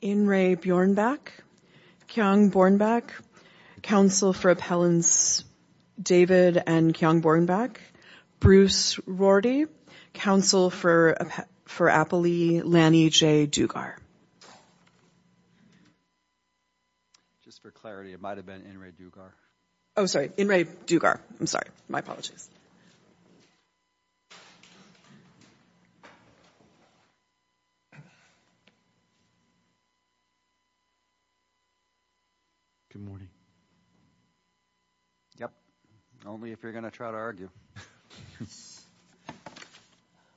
In re Bjornback, Kjong Bornback, counsel for appellants David and Kjong Bornback, Bruce Rorty, counsel for appellee Lanny J. Dugar. Just for clarity it might have been In re Dugar. Oh sorry, In re Dugar, I'm sorry, my apologies. Good morning, yep, only if you're going to try to argue,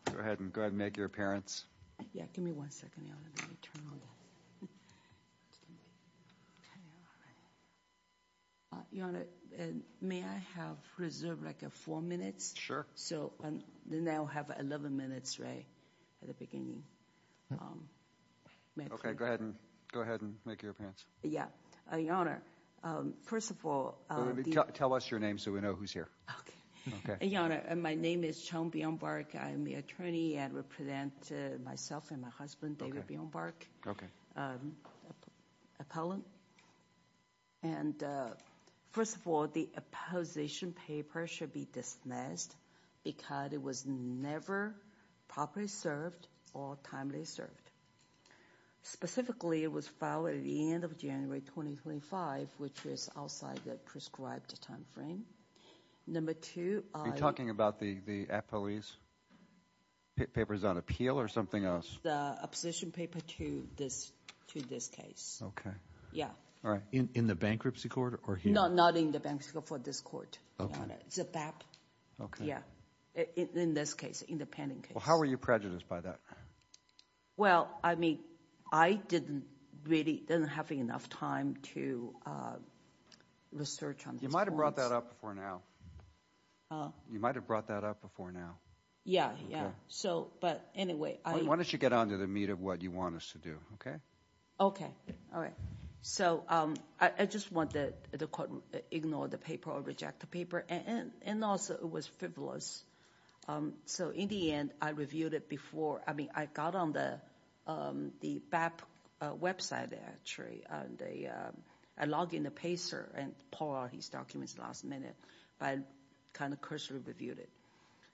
go ahead and go ahead and make your appearance. Yeah, give me one second, Your Honor, let me turn on the, okay, all right, Your Honor, may I have reserve like four minutes? So then I'll have 11 minutes, right, at the beginning. Okay, go ahead and go ahead and make your appearance. Yeah, Your Honor, first of all, tell us your name so we know who's here. Okay, Your Honor, my name is Kjong Bjornback, I'm the attorney and represent myself and my husband David Bjornback, appellant. Okay, and first of all, the opposition paper should be dismissed because it was never properly served or timely served. Specifically, it was filed at the end of January 2025, which was outside the prescribed time frame. Number two, are you talking about the appellee's papers on appeal or something else? The opposition paper to this case. Yeah. All right. In the bankruptcy court or here? No, not in the bankruptcy court, for this court, Your Honor, it's a BAP, yeah, in this case, independent case. Well, how are you prejudiced by that? Well, I mean, I didn't really, didn't have enough time to research on this court. You might have brought that up before now. You might have brought that up before now. Yeah, yeah. So, but anyway. Why don't you get on to the meat of what you want us to do, okay? Okay. All right. So, I just want the court to ignore the paper or reject the paper, and also, it was frivolous. So in the end, I reviewed it before, I mean, I got on the BAP website, actually, and I logged in the PACER and pulled out his documents last minute, but I kind of cursory reviewed it.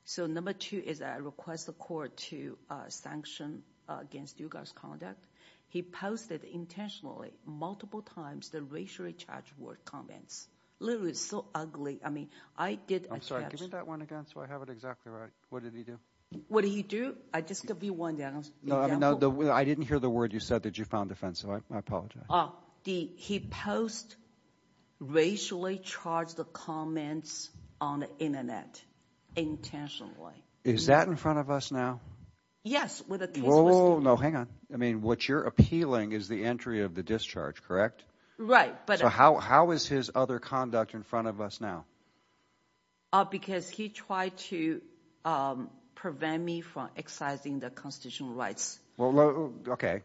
So number two is I request the court to sanction against you guys' conduct. He posted intentionally, multiple times, the racially charged word comments. Literally, it's so ugly. I mean, I did- I'm sorry. Give me that one again so I have it exactly right. What did he do? What did he do? Just to be one example. No, I mean, I didn't hear the word you said that you found offensive, I apologize. He post racially charged comments on the internet intentionally. Is that in front of us now? Yes, with a case- Whoa, whoa, whoa, no, hang on. I mean, what you're appealing is the entry of the discharge, correct? Right, but- So how is his other conduct in front of us now? Because he tried to prevent me from exercising the constitutional rights. Okay.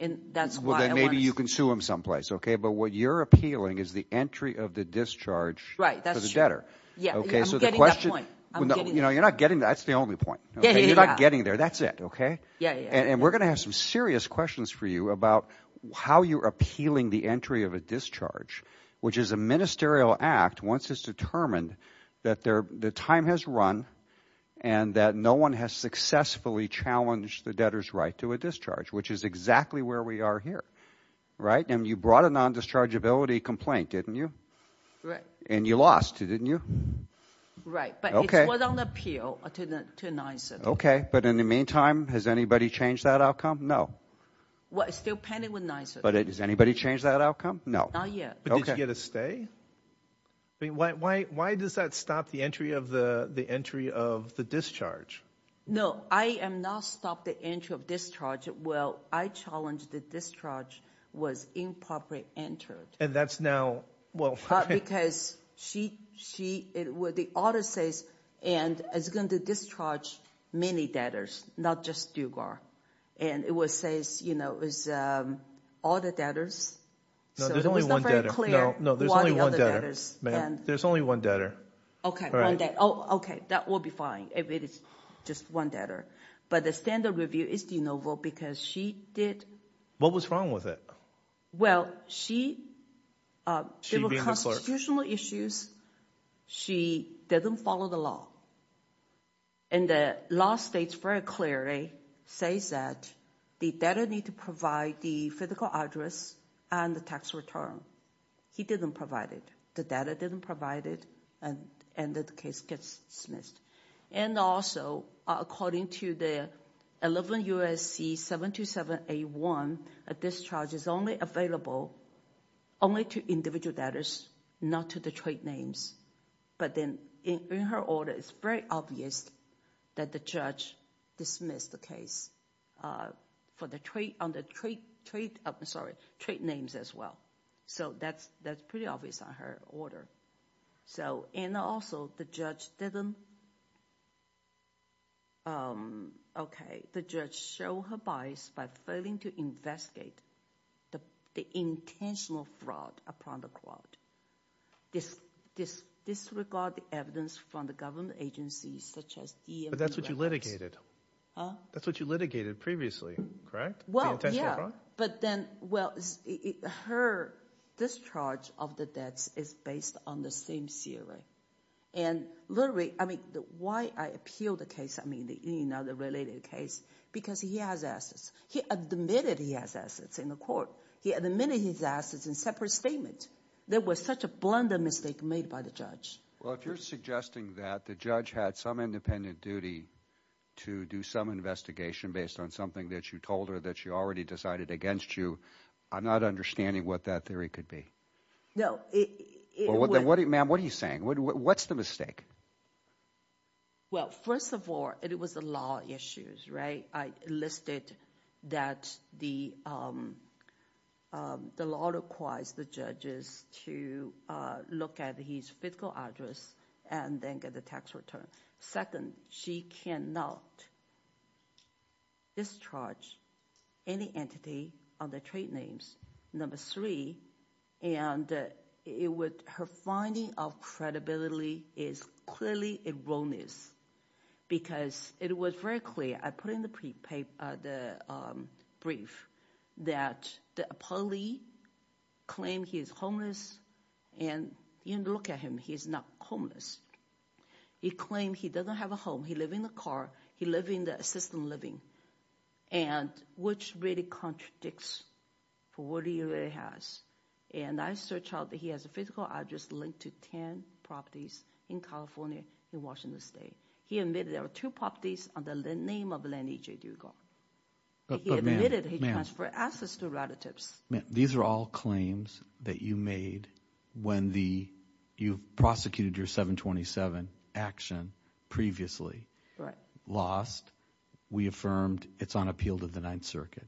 And that's why I want to- Well, then maybe you can sue him someplace, okay? But what you're appealing is the entry of the discharge for the debtor. Right, that's true. Yeah, I'm getting that point. Okay, so the question- You know, you're not getting- That's the only point, okay? You're not getting there. That's it, okay? Yeah, yeah. And we're going to have some serious questions for you about how you're appealing the entry of a discharge, which is a ministerial act once it's determined that the time has run and that no one has successfully challenged the debtor's right to a discharge, which is exactly where we are here, right? And you brought a non-dischargeability complaint, didn't you? Right. And you lost it, didn't you? Right, but it was on appeal to NYSA. Okay, but in the meantime, has anybody changed that outcome? No. Well, it's still pending with NYSA. But has anybody changed that outcome? No. Not yet. But did you get a stay? I mean, why does that stop the entry of the discharge? No, I have not stopped the entry of discharge. Well, I challenged the discharge was improperly entered. And that's now- Because the order says, and it's going to discharge many debtors, not just Dugar. And it says, you know, all the debtors. No, there's only one debtor. Ma'am, there's only one debtor. Okay, one debtor. Okay, that will be fine if it is just one debtor. But the standard review is de novo because she did- What was wrong with it? Well, there were constitutional issues. She didn't follow the law. And the law states very clearly, says that the debtor need to provide the physical address and the tax return. He didn't provide it. The debtor didn't provide it. And the case gets dismissed. And also, according to the 11 U.S.C. 72781, a discharge is only available only to individual debtors, not to the trade names. But then in her order, it's very obvious that the judge dismissed the case for the trade names as well. So that's pretty obvious on her order. And also, the judge didn't- Okay, the judge showed her bias by failing to investigate the intentional fraud upon the court. Disregard the evidence from the government agencies such as the- But that's what you litigated. Huh? That's what you litigated previously, correct? Well, yeah. The intentional fraud? But then, well, her discharge of the debts is based on the same theory. And literally, I mean, why I appeal the case, I mean, the related case, because he has assets. He admitted he has assets in the court. He admitted his assets in separate statements. There was such a blunder mistake made by the judge. Well, if you're suggesting that the judge had some independent duty to do some investigation based on something that you told her that she already decided against you, I'm not understanding what that theory could be. No, it- Ma'am, what are you saying? What's the mistake? Well, first of all, it was the law issues, right? I listed that the law requires the judges to look at his physical address and then get the tax return. Second, she cannot discharge any entity under trade names. Number three, and it was her finding of credibility is clearly erroneous, because it was very clear. I put in the brief that the appellee claimed he is homeless, and you look at him, he's not homeless. He claimed he doesn't have a home. He lives in a car. He lives in the assisted living, which really contradicts what he really has. And I searched out that he has a physical address linked to 10 properties in California, in Washington State. He admitted there were two properties under the name of Lenny J. Dugal. But, ma'am- He admitted he transferred assets to relatives. Ma'am, these are all claims that you made when you prosecuted your 727 action previously. Lost. We affirmed it's on appeal to the Ninth Circuit.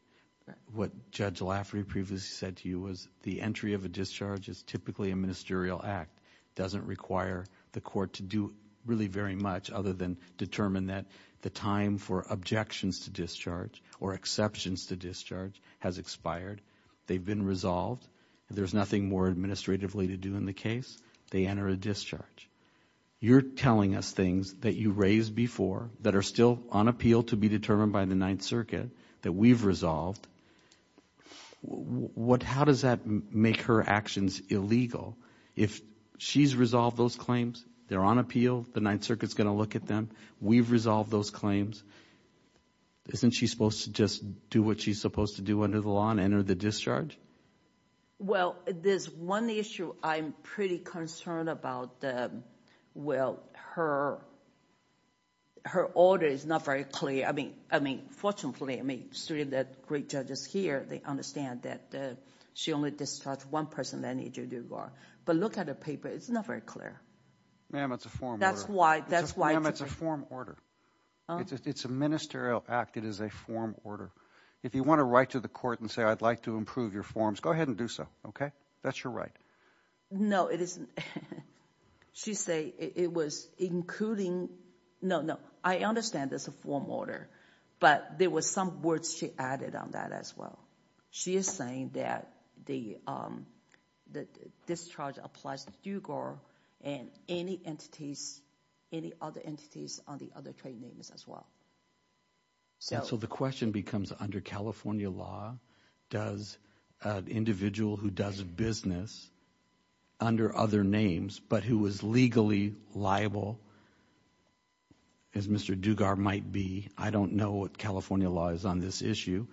What Judge Laffrey previously said to you was the entry of a discharge is typically a ministerial act. It doesn't require the court to do really very much other than determine that the time for objections to discharge or exceptions to discharge has expired. They've been resolved. There's nothing more administratively to do in the case. They enter a discharge. You're telling us things that you raised before, that are still on appeal to be determined by the Ninth Circuit, that we've resolved. How does that make her actions illegal? If she's resolved those claims, they're on appeal, the Ninth Circuit's going to look at them, we've resolved those claims. Isn't she supposed to just do what she's supposed to do under the law and enter the discharge? Well, there's one issue I'm pretty concerned about. Well, her order is not very clear. I mean, fortunately, I mean, three of the great judges here, they understand that she only discharged one person, Lenny J. Dugal. But look at the paper. It's not very clear. Ma'am, it's a formal order. That's why today. Ma'am, it's a form order. It's a ministerial act. It is a form order. If you want to write to the court and say, I'd like to improve your forms, go ahead and do so, okay? That's your right. No, it isn't. She say it was including no, no. I understand it's a form order, but there was some words she added on that as well. She is saying that the discharge applies to Dugal and any entities, any other entities on the other trade names as well. So the question becomes under California law, does an individual who does business under other names but who is legally liable, as Mr. Dugal might be, I don't know what California law is on this issue.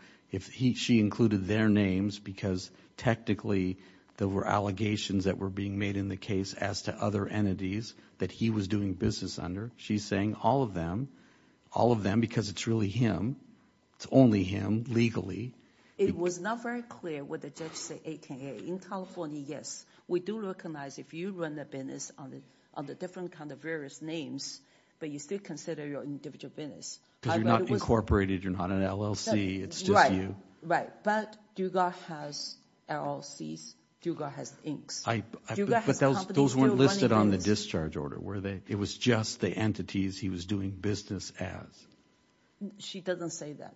She included their names because technically there were allegations that were being made in the case as to other entities that he was doing business under. She's saying all of them, all of them, because it's really him. It's only him legally. It was not very clear what the judge said. In California, yes. We do recognize if you run a business under different kind of various names, but you still consider your individual business. Because you're not incorporated. You're not an LLC. It's just you. Right, right. But Dugal has LLCs. Dugal has inks. But those weren't listed on the discharge order, were they? It was just the entities he was doing business as. She doesn't say that.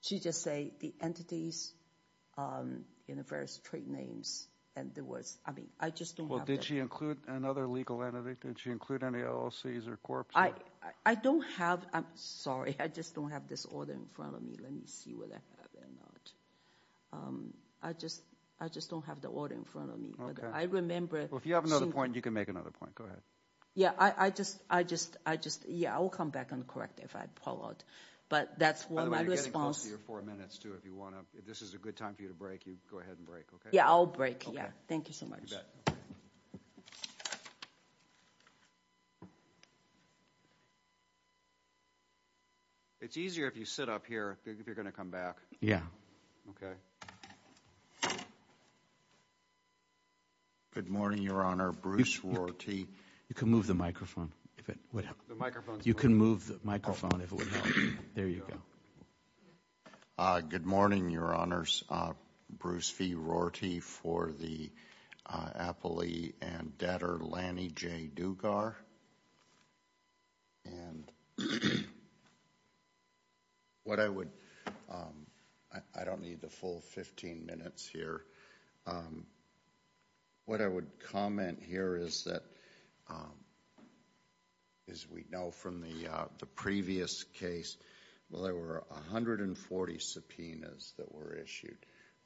She just say the entities in the various trade names, and there was, I mean, I just don't have that. Well, did she include another legal entity? Did she include any LLCs or corps? I don't have. I'm sorry. I just don't have this order in front of me. Let me see whether I have it or not. I just don't have the order in front of me. I remember. Well, if you have another point, you can make another point. Go ahead. Yeah, I just, yeah, I will come back and correct it if I pull out. But that's my response. By the way, you're getting close to your four minutes, too. If this is a good time for you to break, you go ahead and break, okay? Yeah, I'll break, yeah. Thank you so much. You bet. It's easier if you sit up here if you're going to come back. Okay. Good morning, Your Honor. Bruce Rorty. You can move the microphone if it would help. The microphone's on. You can move the microphone if it would help. There you go. Good morning, Your Honors. Bruce V. Rorty for the Apolli and debtor Lanny J. Dugar. And what I would, I don't need the full 15 minutes here. What I would comment here is that, as we know from the previous case, well, there were 140 subpoenas that were issued.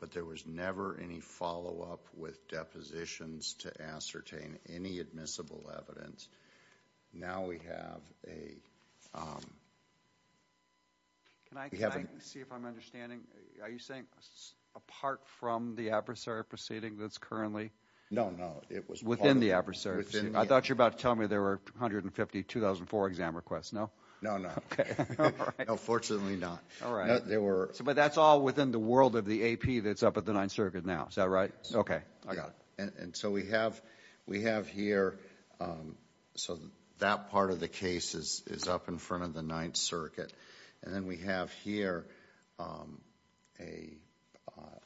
But there was never any follow-up with depositions to ascertain any admissible evidence. Now we have a... Can I see if I'm understanding? Are you saying apart from the adversary proceeding that's currently... No, no. Within the adversary proceeding. I thought you were about to tell me there were 150 2004 exam requests, no? No, no. Okay, all right. No, fortunately not. But that's all within the world of the AP that's up at the Ninth Circuit now. Is that right? Yes. Okay, I got it. And so we have here, so that part of the case is up in front of the Ninth Circuit. And then we have here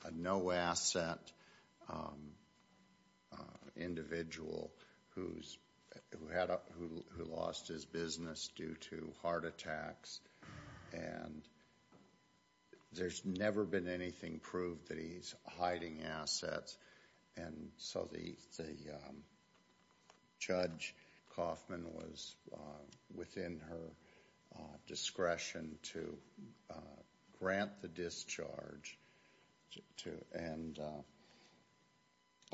a no-asset individual who lost his business due to heart attacks. And there's never been anything proved that he's hiding assets. And so the Judge Coffman was within her discretion to grant the discharge and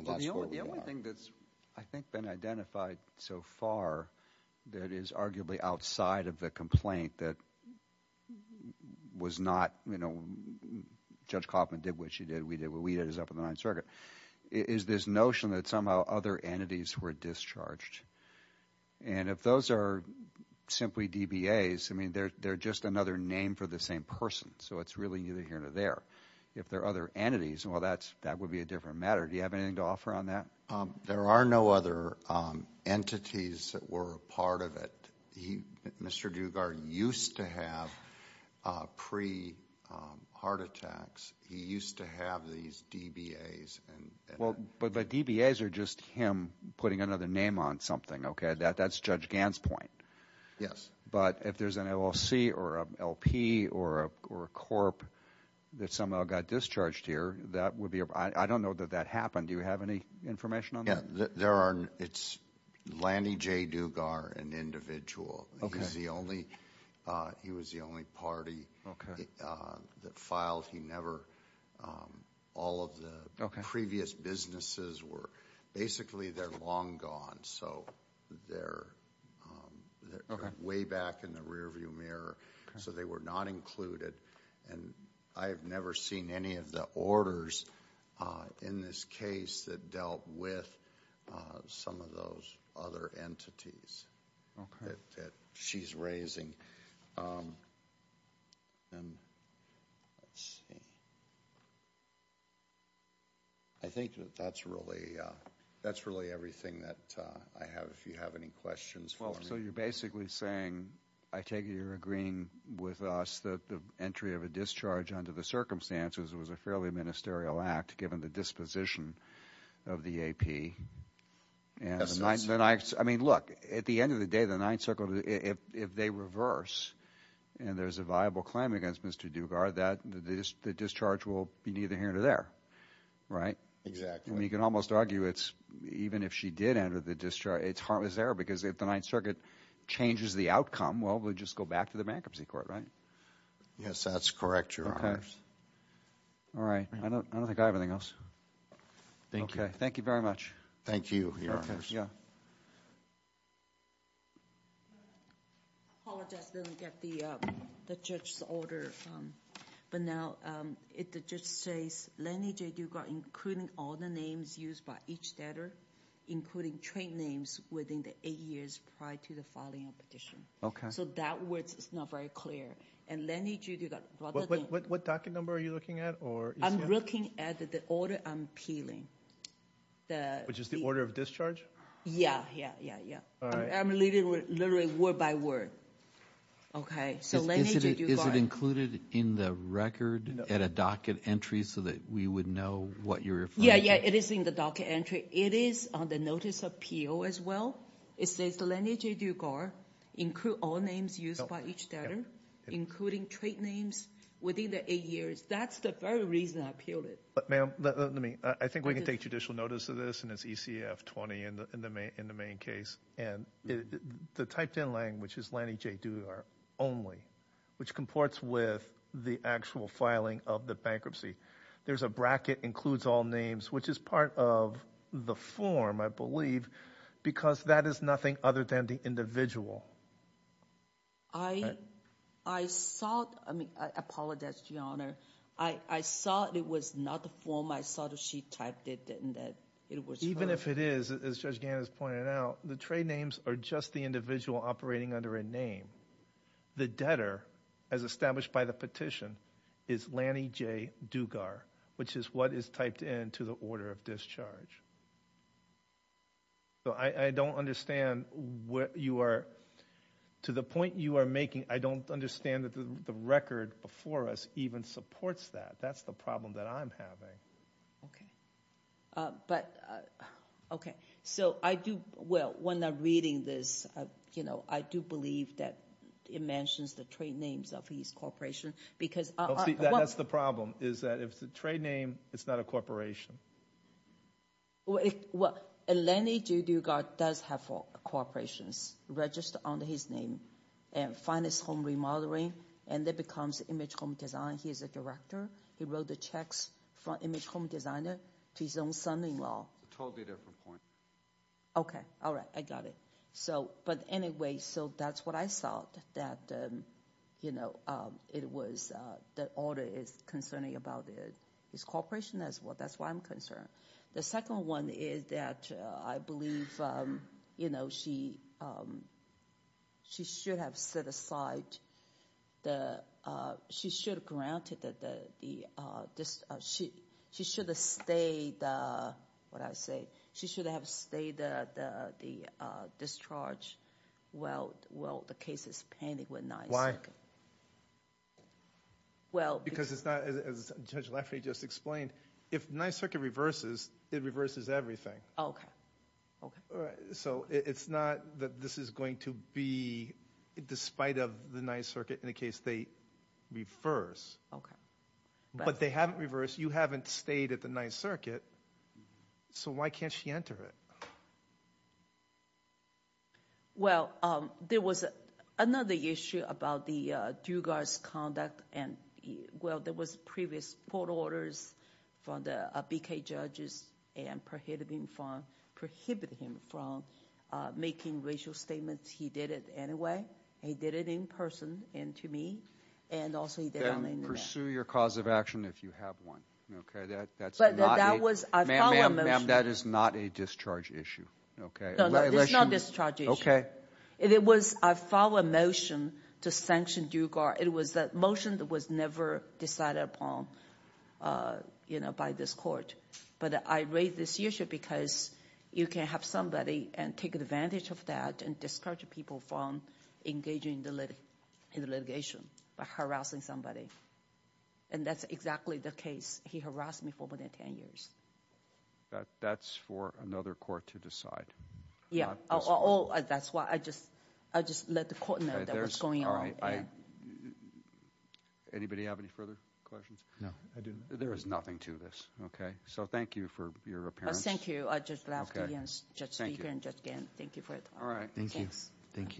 that's where we are. The only thing that's, I think, been identified so far that is arguably outside of the complaint that was not, you know, is this notion that somehow other entities were discharged. And if those are simply DBAs, I mean, they're just another name for the same person. So it's really neither here nor there. If they're other entities, well, that would be a different matter. Do you have anything to offer on that? There are no other entities that were a part of it. Mr. Dugard used to have pre-heart attacks. He used to have these DBAs. Well, but DBAs are just him putting another name on something, okay? That's Judge Gant's point. Yes. But if there's an LLC or an LP or a corp that somehow got discharged here, that would be a, I don't know that that happened. Do you have any information on that? Yeah, there are, it's Lanny J. Dugard, an individual. He's the only, he was the only party that filed. He never, all of the previous businesses were, basically they're long gone. So they're way back in the rear view mirror. So they were not included. And I have never seen any of the orders in this case that dealt with some of those other entities. Okay. That she's raising. And let's see. I think that that's really, that's really everything that I have. If you have any questions for me. Well, so you're basically saying, I take it you're agreeing with us that the entry of a discharge under the circumstances was a fairly ministerial act given the disposition of the AP. I mean, look, at the end of the day, the Ninth Circuit, if they reverse and there's a viable claim against Mr. Dugard, that the discharge will be neither here nor there. Right? Exactly. You can almost argue it's, even if she did enter the discharge, it's harmless error because if the Ninth Circuit changes the outcome, well, we'll just go back to the bankruptcy court, right? Yes, that's correct, Your Honor. Okay. All right. I don't think I have anything else. Thank you. Okay. Thank you very much. Thank you, Your Honors. Yeah. Apologize, didn't get the judge's order. But now the judge says Lenny J. Dugard, including all the names used by each debtor, including trade names within the eight years prior to the filing of the petition. Okay. So that word is not very clear. And Lenny J. Dugard. What docket number are you looking at? I'm looking at the order I'm appealing. Which is the order of discharge? Yeah, yeah, yeah, yeah. All right. I'm reading literally word by word. So Lenny J. Dugard. Is it included in the record at a docket entry so that we would know what you're referring to? Yeah, yeah. It is in the docket entry. It is on the notice of P.O. as well. It says Lenny J. Dugard, include all names used by each debtor, including trade names within the eight years. That's the very reason I appealed it. Ma'am, I think we can take judicial notice of this, and it's ECF 20 in the main case. And the typed in language is Lenny J. Dugard only, which comports with the actual filing of the bankruptcy. There's a bracket, includes all names, which is part of the form, I believe, because that is nothing other than the individual. I saw it. I mean, I apologize, Your Honor. I saw it was not the form. I saw that she typed it and that it was her. Even if it is, as Judge Gaines has pointed out, the trade names are just the individual operating under a name. The debtor, as established by the petition, is Lenny J. Dugard, which is what is typed into the order of discharge. So I don't understand what you are, to the point you are making, I don't understand that the record before us even supports that. That's the problem that I'm having. Okay. But, okay. So I do, well, when I'm reading this, you know, I do believe that it mentions the trade names of each corporation because- That's the problem, is that if it's a trade name, it's not a corporation. Well, Lenny J. Dugard does have four corporations registered under his name. And finest home remodeling, and that becomes image home design. He is a director. He wrote the checks for image home designer to his own son-in-law. Totally different point. Okay. All right. I got it. So, but anyway, so that's what I thought, that, you know, it was, the order is concerning about his corporation. That's why I'm concerned. The second one is that I believe, you know, she should have set aside the, she should have granted the, she should have stayed, what did I say? She should have stayed the discharge while the case is pending with Ninth Circuit. Well- Because it's not, as Judge Lafferty just explained, if Ninth Circuit reverses, it reverses everything. Okay. All right. So it's not that this is going to be, despite of the Ninth Circuit, in the case they reverse. Okay. But they haven't reversed. You haven't stayed at the Ninth Circuit, so why can't she enter it? Well, there was another issue about the due guard's conduct and, well, there was previous court orders from the BK judges and prohibited him from making racial statements. He did it anyway. He did it in person and to me. Then pursue your cause of action if you have one. That's not a- Ma'am, that is not a discharge issue. It's not a discharge issue. It was a follow-up motion to sanction due guard. It was a motion that was never decided upon, you know, by this court. But I raise this issue because you can have somebody take advantage of that and discourage people from engaging in the litigation by harassing somebody. And that's exactly the case. He harassed me for more than 10 years. That's for another court to decide. That's why I just let the court know what's going on. Anybody have any further questions? No, I do not. There is nothing to this. Okay. So thank you for your appearance. Thank you. I just left again. Thank you. Thank you for it. All right. Thank you. Thank you.